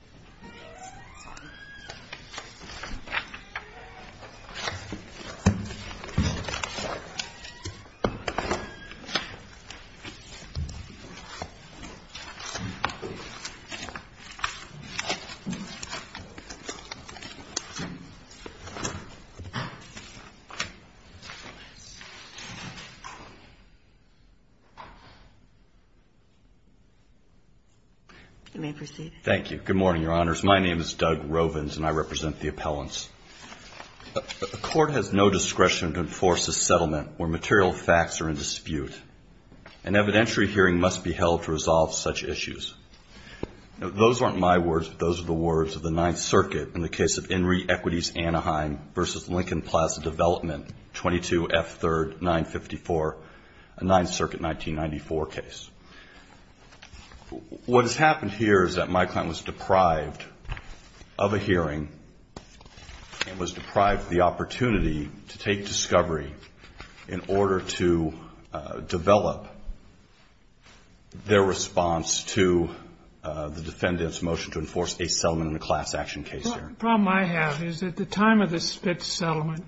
CONNECTICUT GENERAL You may proceed. Thank you. Good morning, Your Honors. My name is Doug Rovins, and I represent the appellants. A court has no discretion to enforce a settlement where material facts are in dispute. An evidentiary hearing must be held to resolve such issues. Now, those aren't my words, but those are the words of the Ninth Circuit in the case of Inree Equities Anaheim v. Lincoln Plaza Development, 22 F. 3rd, 954, a Ninth Circuit 1994 case. What has happened here is that my client was deprived of a hearing and was deprived of the opportunity to take discovery in order to develop their response to the defendant's motion to enforce a settlement in a class action case here. The problem I have is at the time of the Spitz settlement,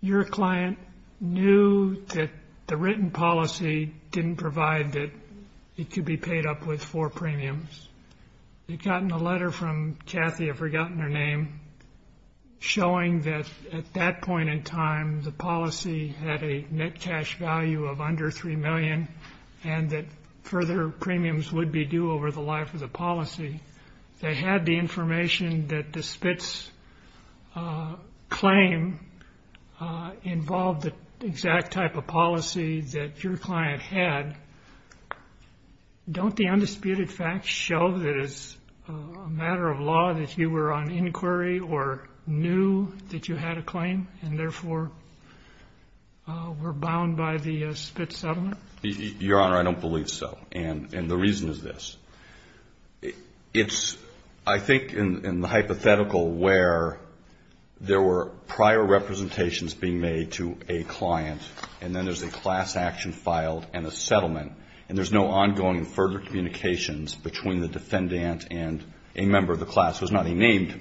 your client knew that the written policy didn't provide that it could be paid up with four premiums. They'd gotten a letter from Kathy, I've forgotten her name, showing that at that point in time, the policy had a net cash value of under $3 million and that further premiums would be due over the life of the policy. They had the information that the Spitz claim involved the exact type of policy that your client had. Don't the undisputed facts show that it's a matter of law that you were on inquiry or knew that you had a claim and therefore were bound by the Spitz settlement? Your Honor, I don't believe so. And the reason is this. It's, I think, in the hypothetical where there were prior representations being made to a client and then there's a class action filed and a settlement and there's no ongoing further communications between the defendant and a member of the class who is not a named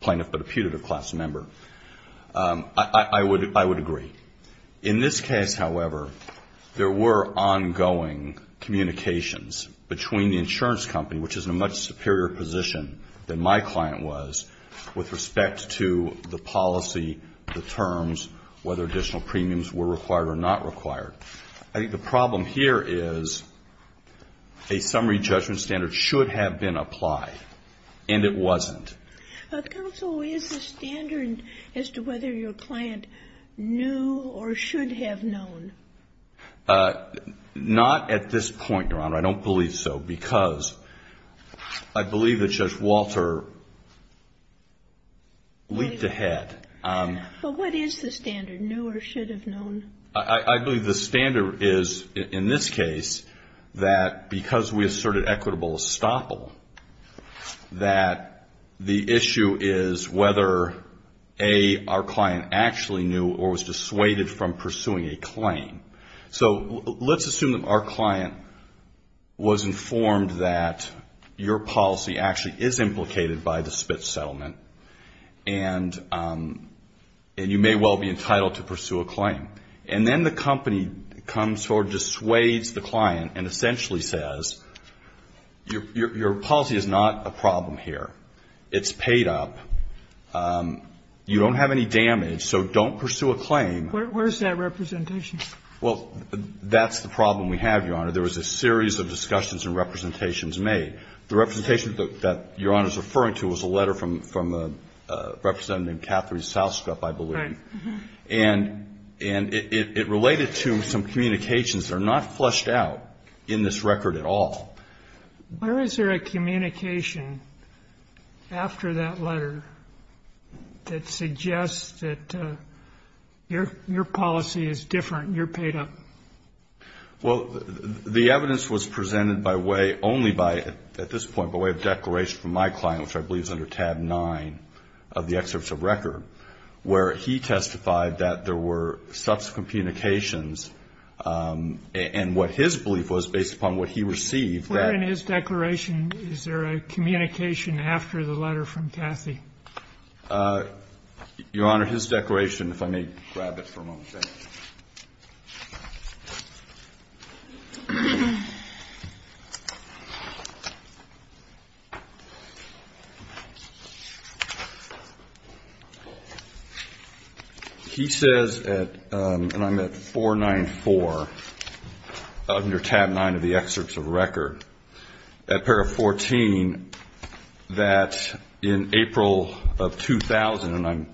plaintiff but a putative class member, I would agree. In this case, however, there were ongoing communications between the insurance company, which is in a much superior position than my client was, with respect to the policy, the terms, whether additional premiums were required or not required. I think the problem here is a summary judgment standard should have been applied and it wasn't. Counsel, is the standard as to whether your client knew or should have known? Not at this point, Your Honor. I don't believe so because I believe that Judge Walter leaped ahead. But what is the standard, knew or should have known? I believe the standard is, in this case, that because we asserted equitable estoppel, that the issue is whether, A, our client actually knew or was dissuaded from pursuing a claim. So let's assume that our client was informed that your policy actually is implicated by the Spitz settlement and you may well be entitled to pursue a claim. And then the company comes forward, dissuades the client and essentially says, your policy is not a problem here. It's paid up. You don't have any damage, so don't pursue a claim. Where is that representation? Well, that's the problem we have, Your Honor. There was a series of discussions and representations made. The representation that Your Honor is referring to was a letter from Representative Catherine Southrup, I believe. Right. And it related to some communications that are not fleshed out in this record at all. Where is there a communication after that letter that suggests that your policy is different and you're paid up? Well, the evidence was presented by way only by, at this point, by way of declaration from my client, which I believe is under tab 9 of the excerpts of record, where he testified that there were subsequent communications and what his belief was based upon what he received. Where in his declaration is there a communication after the letter from Cathy? Your Honor, his declaration, if I may grab it for a moment. He says at, and I'm at 494, under tab 9 of the excerpts of record, at paragraph 14, that in April of 2000, I'm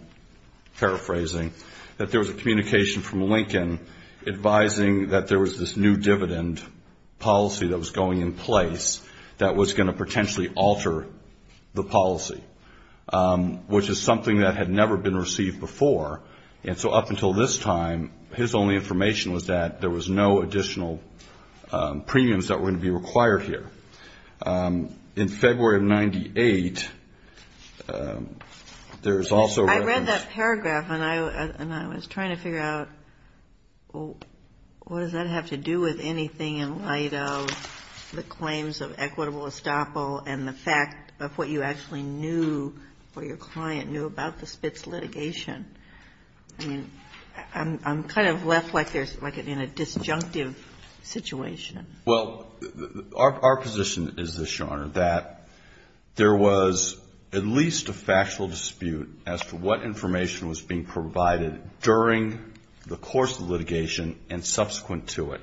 paraphrasing, that there was a communication from Lincoln advising that there was this new dividend policy that was going in place that was going to potentially alter the policy, which is something that had never been received before. And so up until this time, his only information was that there was no additional premiums that were going to be required here. In February of 98, there is also reference. I read that paragraph and I was trying to figure out what does that have to do with anything in light of the claims of equitable estoppel and the fact of what you actually knew or your client knew about the Spitz litigation? I mean, I'm kind of left like in a disjunctive situation. Well, our position is this, Your Honor, that there was at least a factual dispute as to what information was being provided during the course of the litigation and subsequent to it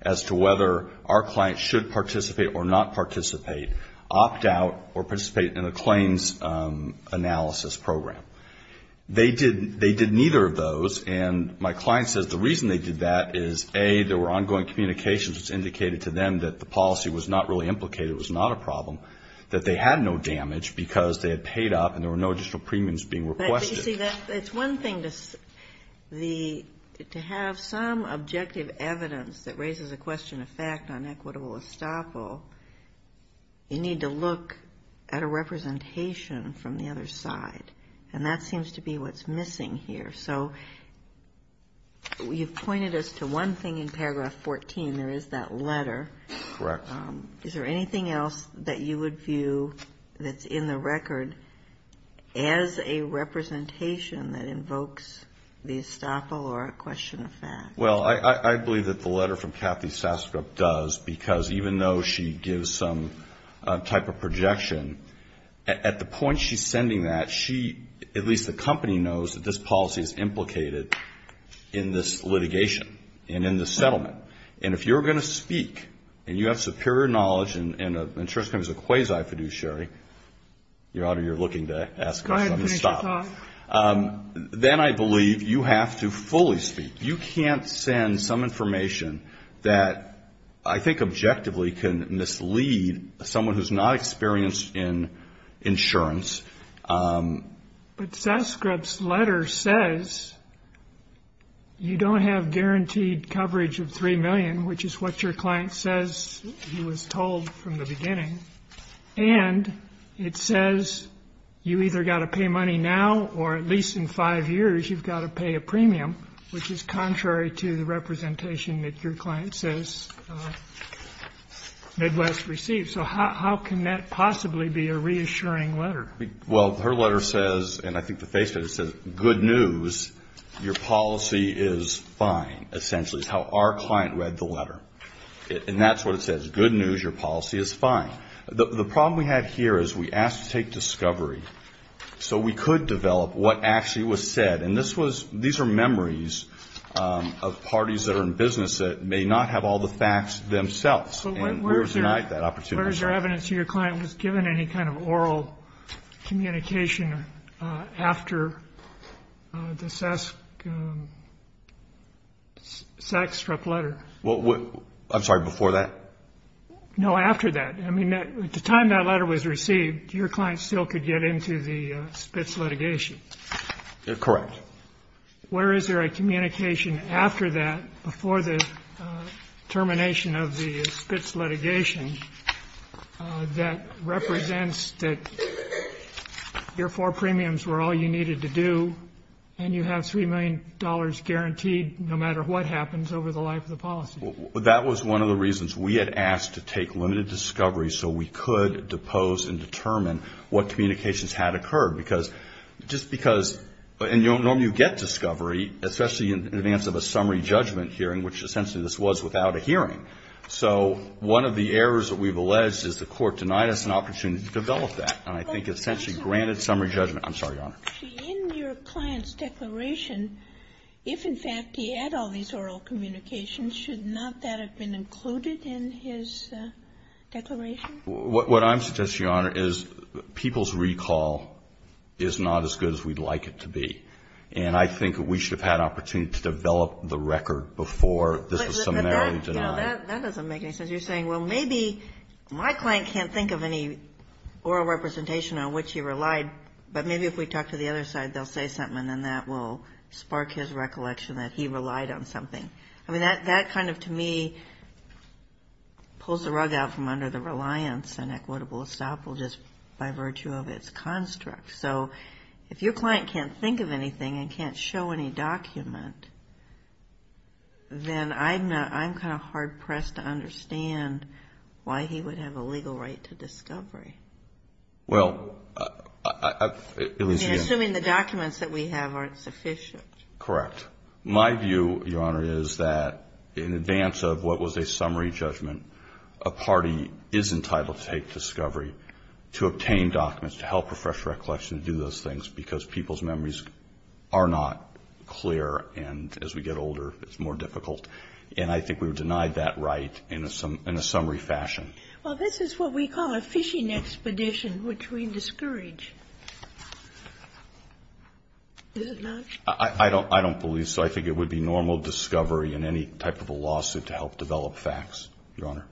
as to whether our client should participate or not participate, opt out, or participate in a claims analysis program. They did neither of those, and my client says the reason they did that is, A, there were ongoing communications that indicated to them that the policy was not really implicated, it was not a problem, that they had no damage because they had paid up and there were no additional premiums being requested. But, you see, that's one thing, to have some objective evidence that raises a question of fact on equitable estoppel, you need to look at a representation from the other side, and that seems to be what's missing here. So you've pointed us to one thing in paragraph 14, there is that letter. Correct. Is there anything else that you would view that's in the record as a representation that invokes the estoppel or a question of fact? Well, I believe that the letter from Kathy Sastrup does, because even though she gives some type of projection, at the point she's sending that, she, at least the company, knows that this policy is implicated in this litigation and in this settlement. And if you're going to speak and you have superior knowledge and the insurance company is a quasi-fiduciary, Your Honor, you're looking to ask me to stop. Then I believe you have to fully speak. You can't send some information that I think objectively can mislead someone who's not experienced in insurance. But Sastrup's letter says you don't have guaranteed coverage of $3 million, which is what your client says he was told from the beginning. And it says you either got to pay money now or at least in five years you've got to pay a premium, which is contrary to the representation that your client says Midwest received. So how can that possibly be a reassuring letter? Well, her letter says, and I think the face of it says, good news, your policy is fine, essentially, is how our client read the letter. And that's what it says, good news, your policy is fine. The problem we have here is we asked to take discovery so we could develop what actually was said. And these are memories of parties that are in business that may not have all the facts themselves. And we're denied that opportunity. And where is there evidence your client was given any kind of oral communication after the Sastrup letter? I'm sorry, before that? No, after that. I mean, at the time that letter was received, your client still could get into the Spitz litigation. Correct. Where is there a communication after that, before the termination of the Spitz litigation, that represents that your four premiums were all you needed to do, and you have $3 million guaranteed no matter what happens over the life of the policy? That was one of the reasons we had asked to take limited discovery so we could depose and determine what communications had occurred. Because just because, and normally you get discovery, especially in advance of a summary judgment hearing, which essentially this was without a hearing. So one of the errors that we've alleged is the court denied us an opportunity to develop that. And I think it essentially granted summary judgment. I'm sorry, Your Honor. In your client's declaration, if in fact he had all these oral communications, should not that have been included in his declaration? What I'm suggesting, Your Honor, is people's recall is not as good as we'd like it to be. And I think we should have had opportunity to develop the record before this was summarily denied. That doesn't make any sense. You're saying, well, maybe my client can't think of any oral representation on which he relied, but maybe if we talk to the other side, they'll say something, and then that will spark his recollection that he relied on something. I mean, that kind of, to me, pulls the rug out from under the reliance on equitable estoppel just by virtue of its construct. So if your client can't think of anything and can't show any document, then I'm kind of hard-pressed to understand why he would have a legal right to discovery. Assuming the documents that we have aren't sufficient. Correct. My view, Your Honor, is that in advance of what was a summary judgment, a party is entitled to take discovery to obtain documents, to help refresh recollection, to do those things, because people's memories are not clear, and as we get older, it's more difficult. And I think we've denied that right in a summary fashion. Well, this is what we call a fishing expedition, which we discourage. Is it not? I don't believe so. I think it would be normal discovery in any type of a lawsuit to help develop facts, Your Honor.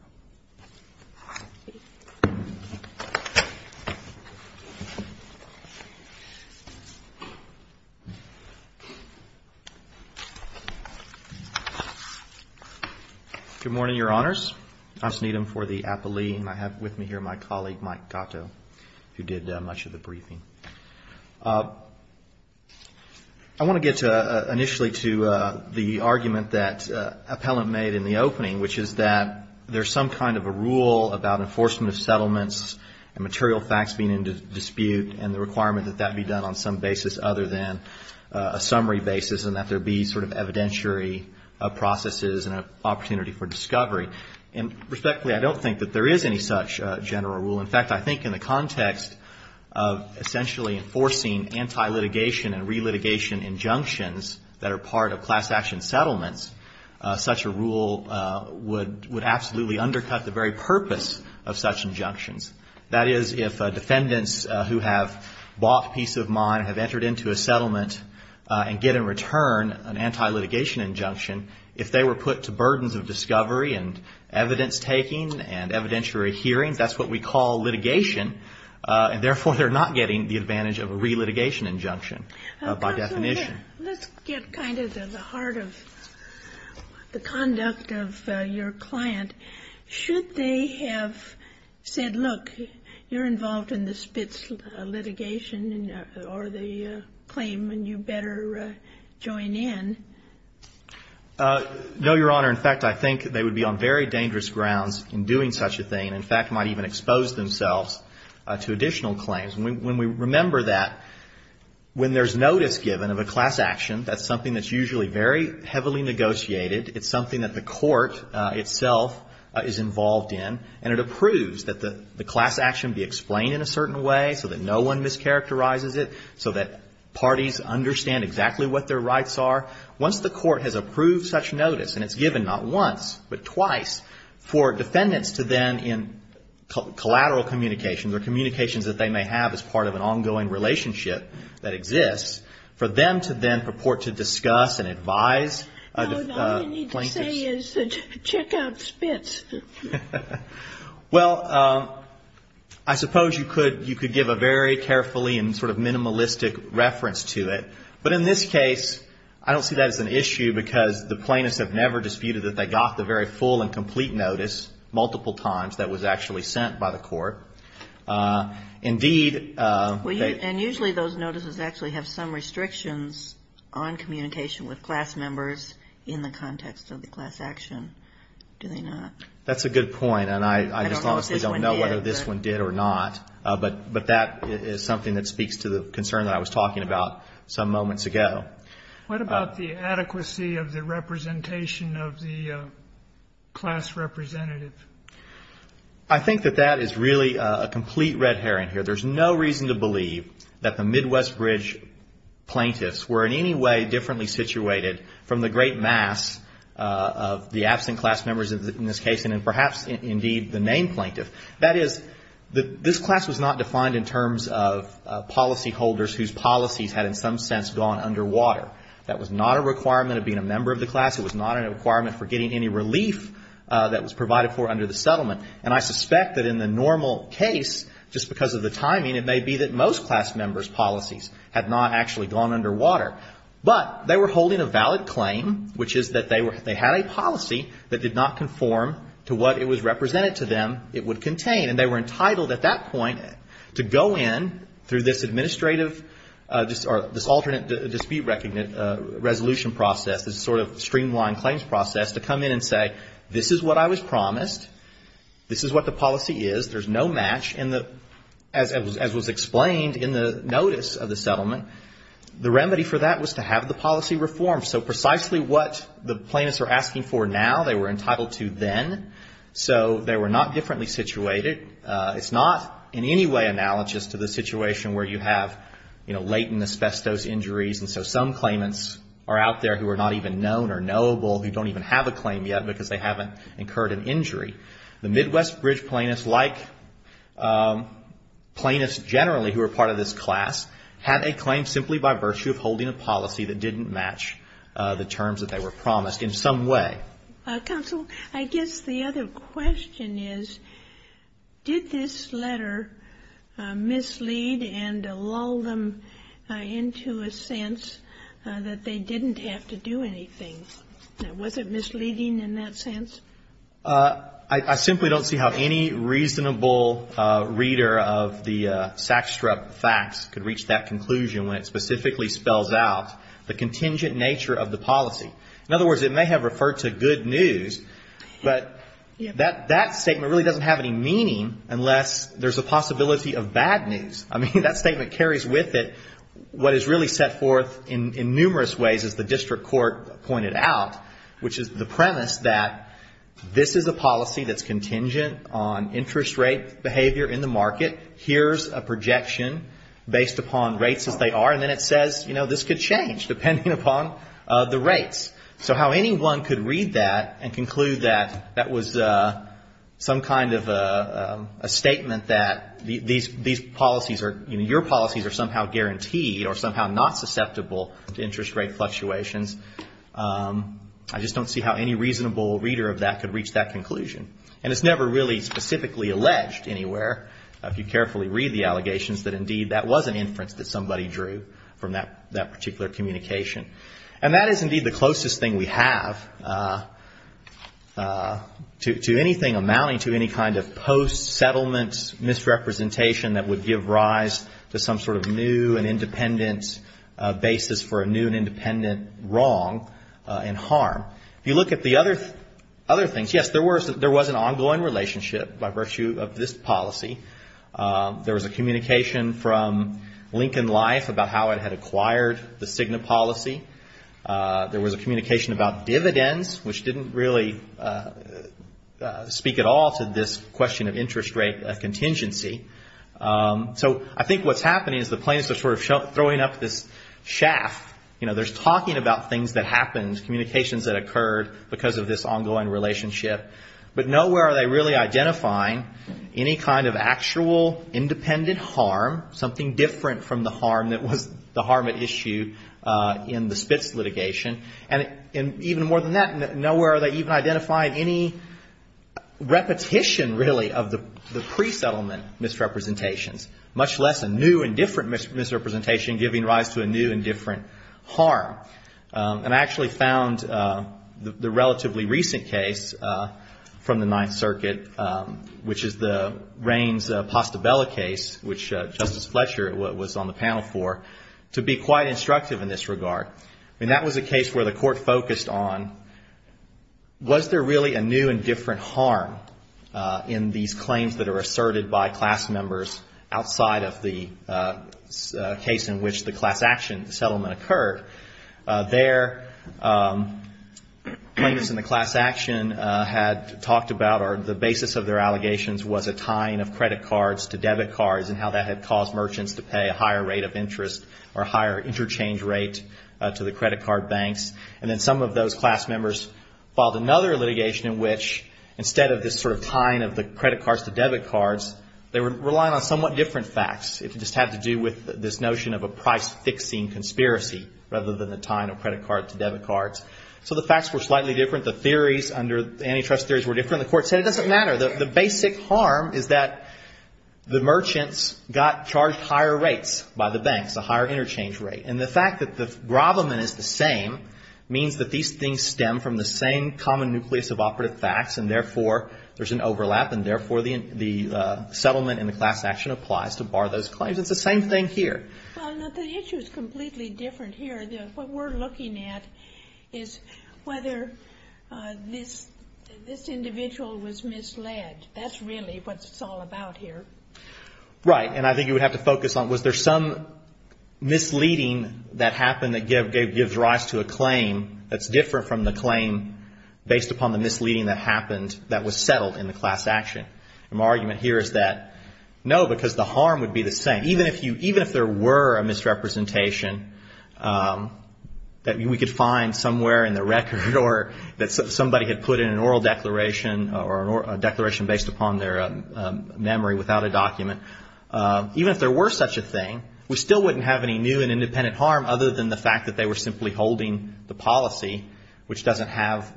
Good morning, Your Honors. I'm Sneedham for the appellee, and I have with me here my colleague, Mike Gatto, who did much of the briefing. I want to get initially to the argument that Appellant made in the opening, which is that there's some kind of a rule about enforcement of settlements and material facts being in dispute, and the requirement that that be done on some basis other than a summary basis, and that there be sort of evidentiary processes and an opportunity for discovery. And respectfully, I don't think that there is any such general rule. In fact, I think in the context of essentially enforcing anti-litigation and re-litigation injunctions that are part of class action settlements, such a rule would absolutely undercut the very purpose of such injunctions. That is, if defendants who have bought peace of mind have entered into a settlement and get in return a piece of the settlement, an anti-litigation injunction, if they were put to burdens of discovery and evidence-taking and evidentiary hearings, that's what we call litigation, and therefore they're not getting the advantage of a re-litigation injunction by definition. Let's get kind of to the heart of the conduct of your client. Should they have said, look, you're involved in the Spitz litigation or the claim, and you better join in? No, Your Honor. In fact, I think they would be on very dangerous grounds in doing such a thing, and in fact might even expose themselves to additional claims. When we remember that, when there's notice given of a class action, that's something that's usually very heavily negotiated. It's something that the court itself is involved in, and it approves that the class action be explained in a certain way so that no one mischaracterizes it, so that parties understand exactly what their rights are. Once the court has approved such notice, and it's given not once, but twice, for defendants to then, in collateral communications or communications that they may have as part of an ongoing relationship that exists, for them to then purport to discuss and advise a plaintiff's... carefully and sort of minimalistic reference to it. But in this case, I don't see that as an issue, because the plaintiffs have never disputed that they got the very full and complete notice multiple times that was actually sent by the court. Indeed... And usually those notices actually have some restrictions on communication with class members in the context of the class action, do they not? That's a good point, and I just honestly don't know whether this one did or not. But that is something that speaks to the concern that I was talking about some moments ago. What about the adequacy of the representation of the class representative? I think that that is really a complete red herring here. There's no reason to believe that the Midwest Bridge plaintiffs were in any way differently situated from the great mass of the case, and perhaps indeed the main plaintiff. That is, this class was not defined in terms of policyholders whose policies had in some sense gone underwater. That was not a requirement of being a member of the class. It was not a requirement for getting any relief that was provided for under the settlement. And I suspect that in the normal case, just because of the timing, it may be that most class members' policies had not actually gone underwater. But they were holding a valid claim, which is that they had a policy that did not conform to what it was represented to them it would contain. And they were entitled at that point to go in through this administrative, or this alternate dispute resolution process, this sort of streamlined claims process, to come in and say, this is what I was promised, this is what the policy is, there's no match, as was explained in the notice of the settlement, the remedy for that was to have the policy reformed. So precisely what the plaintiffs are asking for now, they were entitled to then. So they were not differently situated. It's not in any way analogous to the situation where you have, you know, latent asbestos injuries, and so some claimants are out there who are not even known or knowable, who don't even have a claim yet because they haven't incurred an injury. The Midwest Bridge plaintiffs, like plaintiffs generally who are part of this class, had a claim simply by virtue of holding a policy that didn't match the terms that they were promised in some way. Counsel, I guess the other question is, did this letter mislead and lull them into a sense that they didn't have to do anything? Now, was it misleading in that sense? I simply don't see how any reasonable reader of the Sackstrup facts could reach that conclusion when it specifically spells out the contingent nature of the policy. In other words, it may have referred to good news, but that statement really doesn't have any meaning unless there's a possibility of bad news. I mean, that statement carries with it what is really set forth in numerous ways as the doubt, which is the premise that this is a policy that's contingent on interest rate behavior in the market. Here's a projection based upon rates as they are, and then it says, you know, this could change depending upon the rates. So how anyone could read that and conclude that that was some kind of a statement that these policies are, you know, your policies are somehow guaranteed or somehow not susceptible to interest rate fluctuations. I just don't see how any reasonable reader of that could reach that conclusion. And it's never really specifically alleged anywhere, if you carefully read the allegations, that, indeed, that was an inference that somebody drew from that particular communication. And that is, indeed, the closest thing we have to anything amounting to any kind of post-settlement misrepresentation that would give rise to some sort of new and independent basis for a new and independent wrong in how to do harm. If you look at the other things, yes, there was an ongoing relationship by virtue of this policy. There was a communication from Lincoln Life about how it had acquired the Cigna policy. There was a communication about dividends, which didn't really speak at all to this question of interest rate contingency. So I think what's happening is the plaintiffs are sort of throwing up this shaft. You know, there's talking about things that happened, communications that occurred because of this ongoing relationship. But nowhere are they really identifying any kind of actual independent harm, something different from the harm that was the harm at issue in the Spitz litigation. And even more than that, nowhere are they even identifying any repetition, really, of the pre-settlement misrepresentations, much less a new and different misrepresentation giving rise to a new and different harm. And I actually found the relatively recent case from the Ninth Circuit, which is the Raines-Postabella case, which Justice Fletcher was on the panel for, to be quite instructive in this regard. I mean, that was a case where the court focused on was there really a new and different harm in these claims that are asserted by class members outside of the case in which the class action settlement occurred. There, plaintiffs in the class action had talked about or the basis of their allegations was a tying of credit cards to debit cards and how that had caused merchants to pay a higher rate of interest or a higher interchange rate to the credit card banks. And then some of those class members filed another litigation in which instead of this sort of tying of the credit cards to debit cards, they were relying on somewhat different facts. It just had to do with this notion of a price-fixing conspiracy rather than the tying of credit cards to debit cards. So the facts were slightly different. The theories under antitrust theories were different. The court said it doesn't matter. The basic harm is that the merchants got charged higher rates by the banks, a higher interchange rate. And the fact that the problem is the same means that these things stem from the same common nucleus of operative facts and therefore there's an overlap and therefore the settlement in the class action applies to bar those claims. It's the same thing here. Well, no, the issue is completely different here. What we're looking at is whether this individual was misled. That's really what it's all about here. And that happened that gives rise to a claim that's different from the claim based upon the misleading that happened that was settled in the class action. And my argument here is that no, because the harm would be the same. Even if there were a misrepresentation that we could find somewhere in the record or that somebody had put in an oral declaration or a declaration based upon their memory without a document, even if there were such a thing, we still wouldn't have any new and independent claim of harm other than the fact that they were simply holding the policy, which doesn't have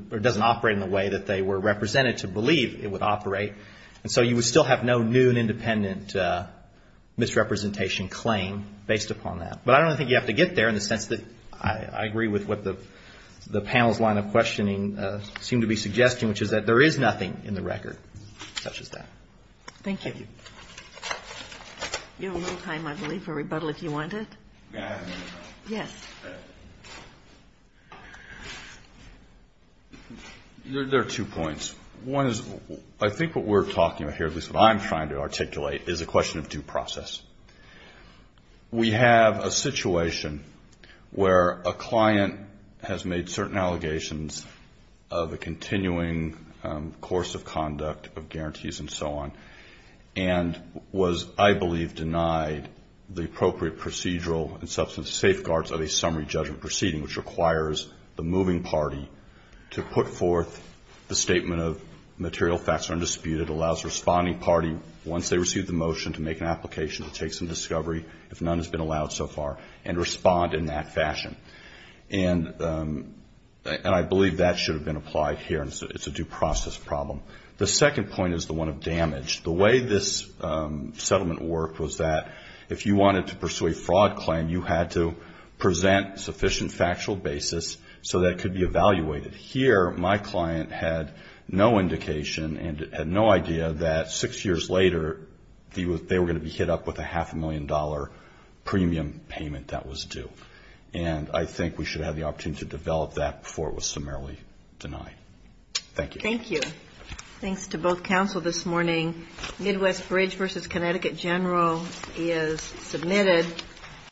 or doesn't operate in the way that they were represented to believe it would operate. And so you would still have no new and independent misrepresentation claim based upon that. But I don't think you have to get there in the sense that I agree with what the panel's line of questioning seem to be suggesting, which is that there is nothing in the record such as that. Thank you. There are two points. One is I think what we're talking about here, at least what I'm trying to articulate, is a question of due process. We have a situation where a client has made certain allegations of a continuing course of conduct of guarantees and so on, and was I believe denied the appropriate procedural and substance safeguards of a summary judgment proceeding, which requires the moving party to put forth the statement of material facts are undisputed, allows the responding party, once they receive the motion, to make an application to take some discovery, if none has been allowed so far, and respond in that fashion. And I believe that should have been applied here, and it's a due process problem. The second point is the one of damage. The way this settlement worked was that if you wanted to pursue a fraud claim, you had to present sufficient factual basis so that it could be evaluated. Here, my client had no indication and had no idea that six years later, they were going to be hit up with a half a million dollar premium payment that was due. And I think we should have the opportunity to evaluate that, but I would not, I would not, I would not, I would not, I would not, I would not, I would not, I would not, I would not unilaterally deny. Thank you.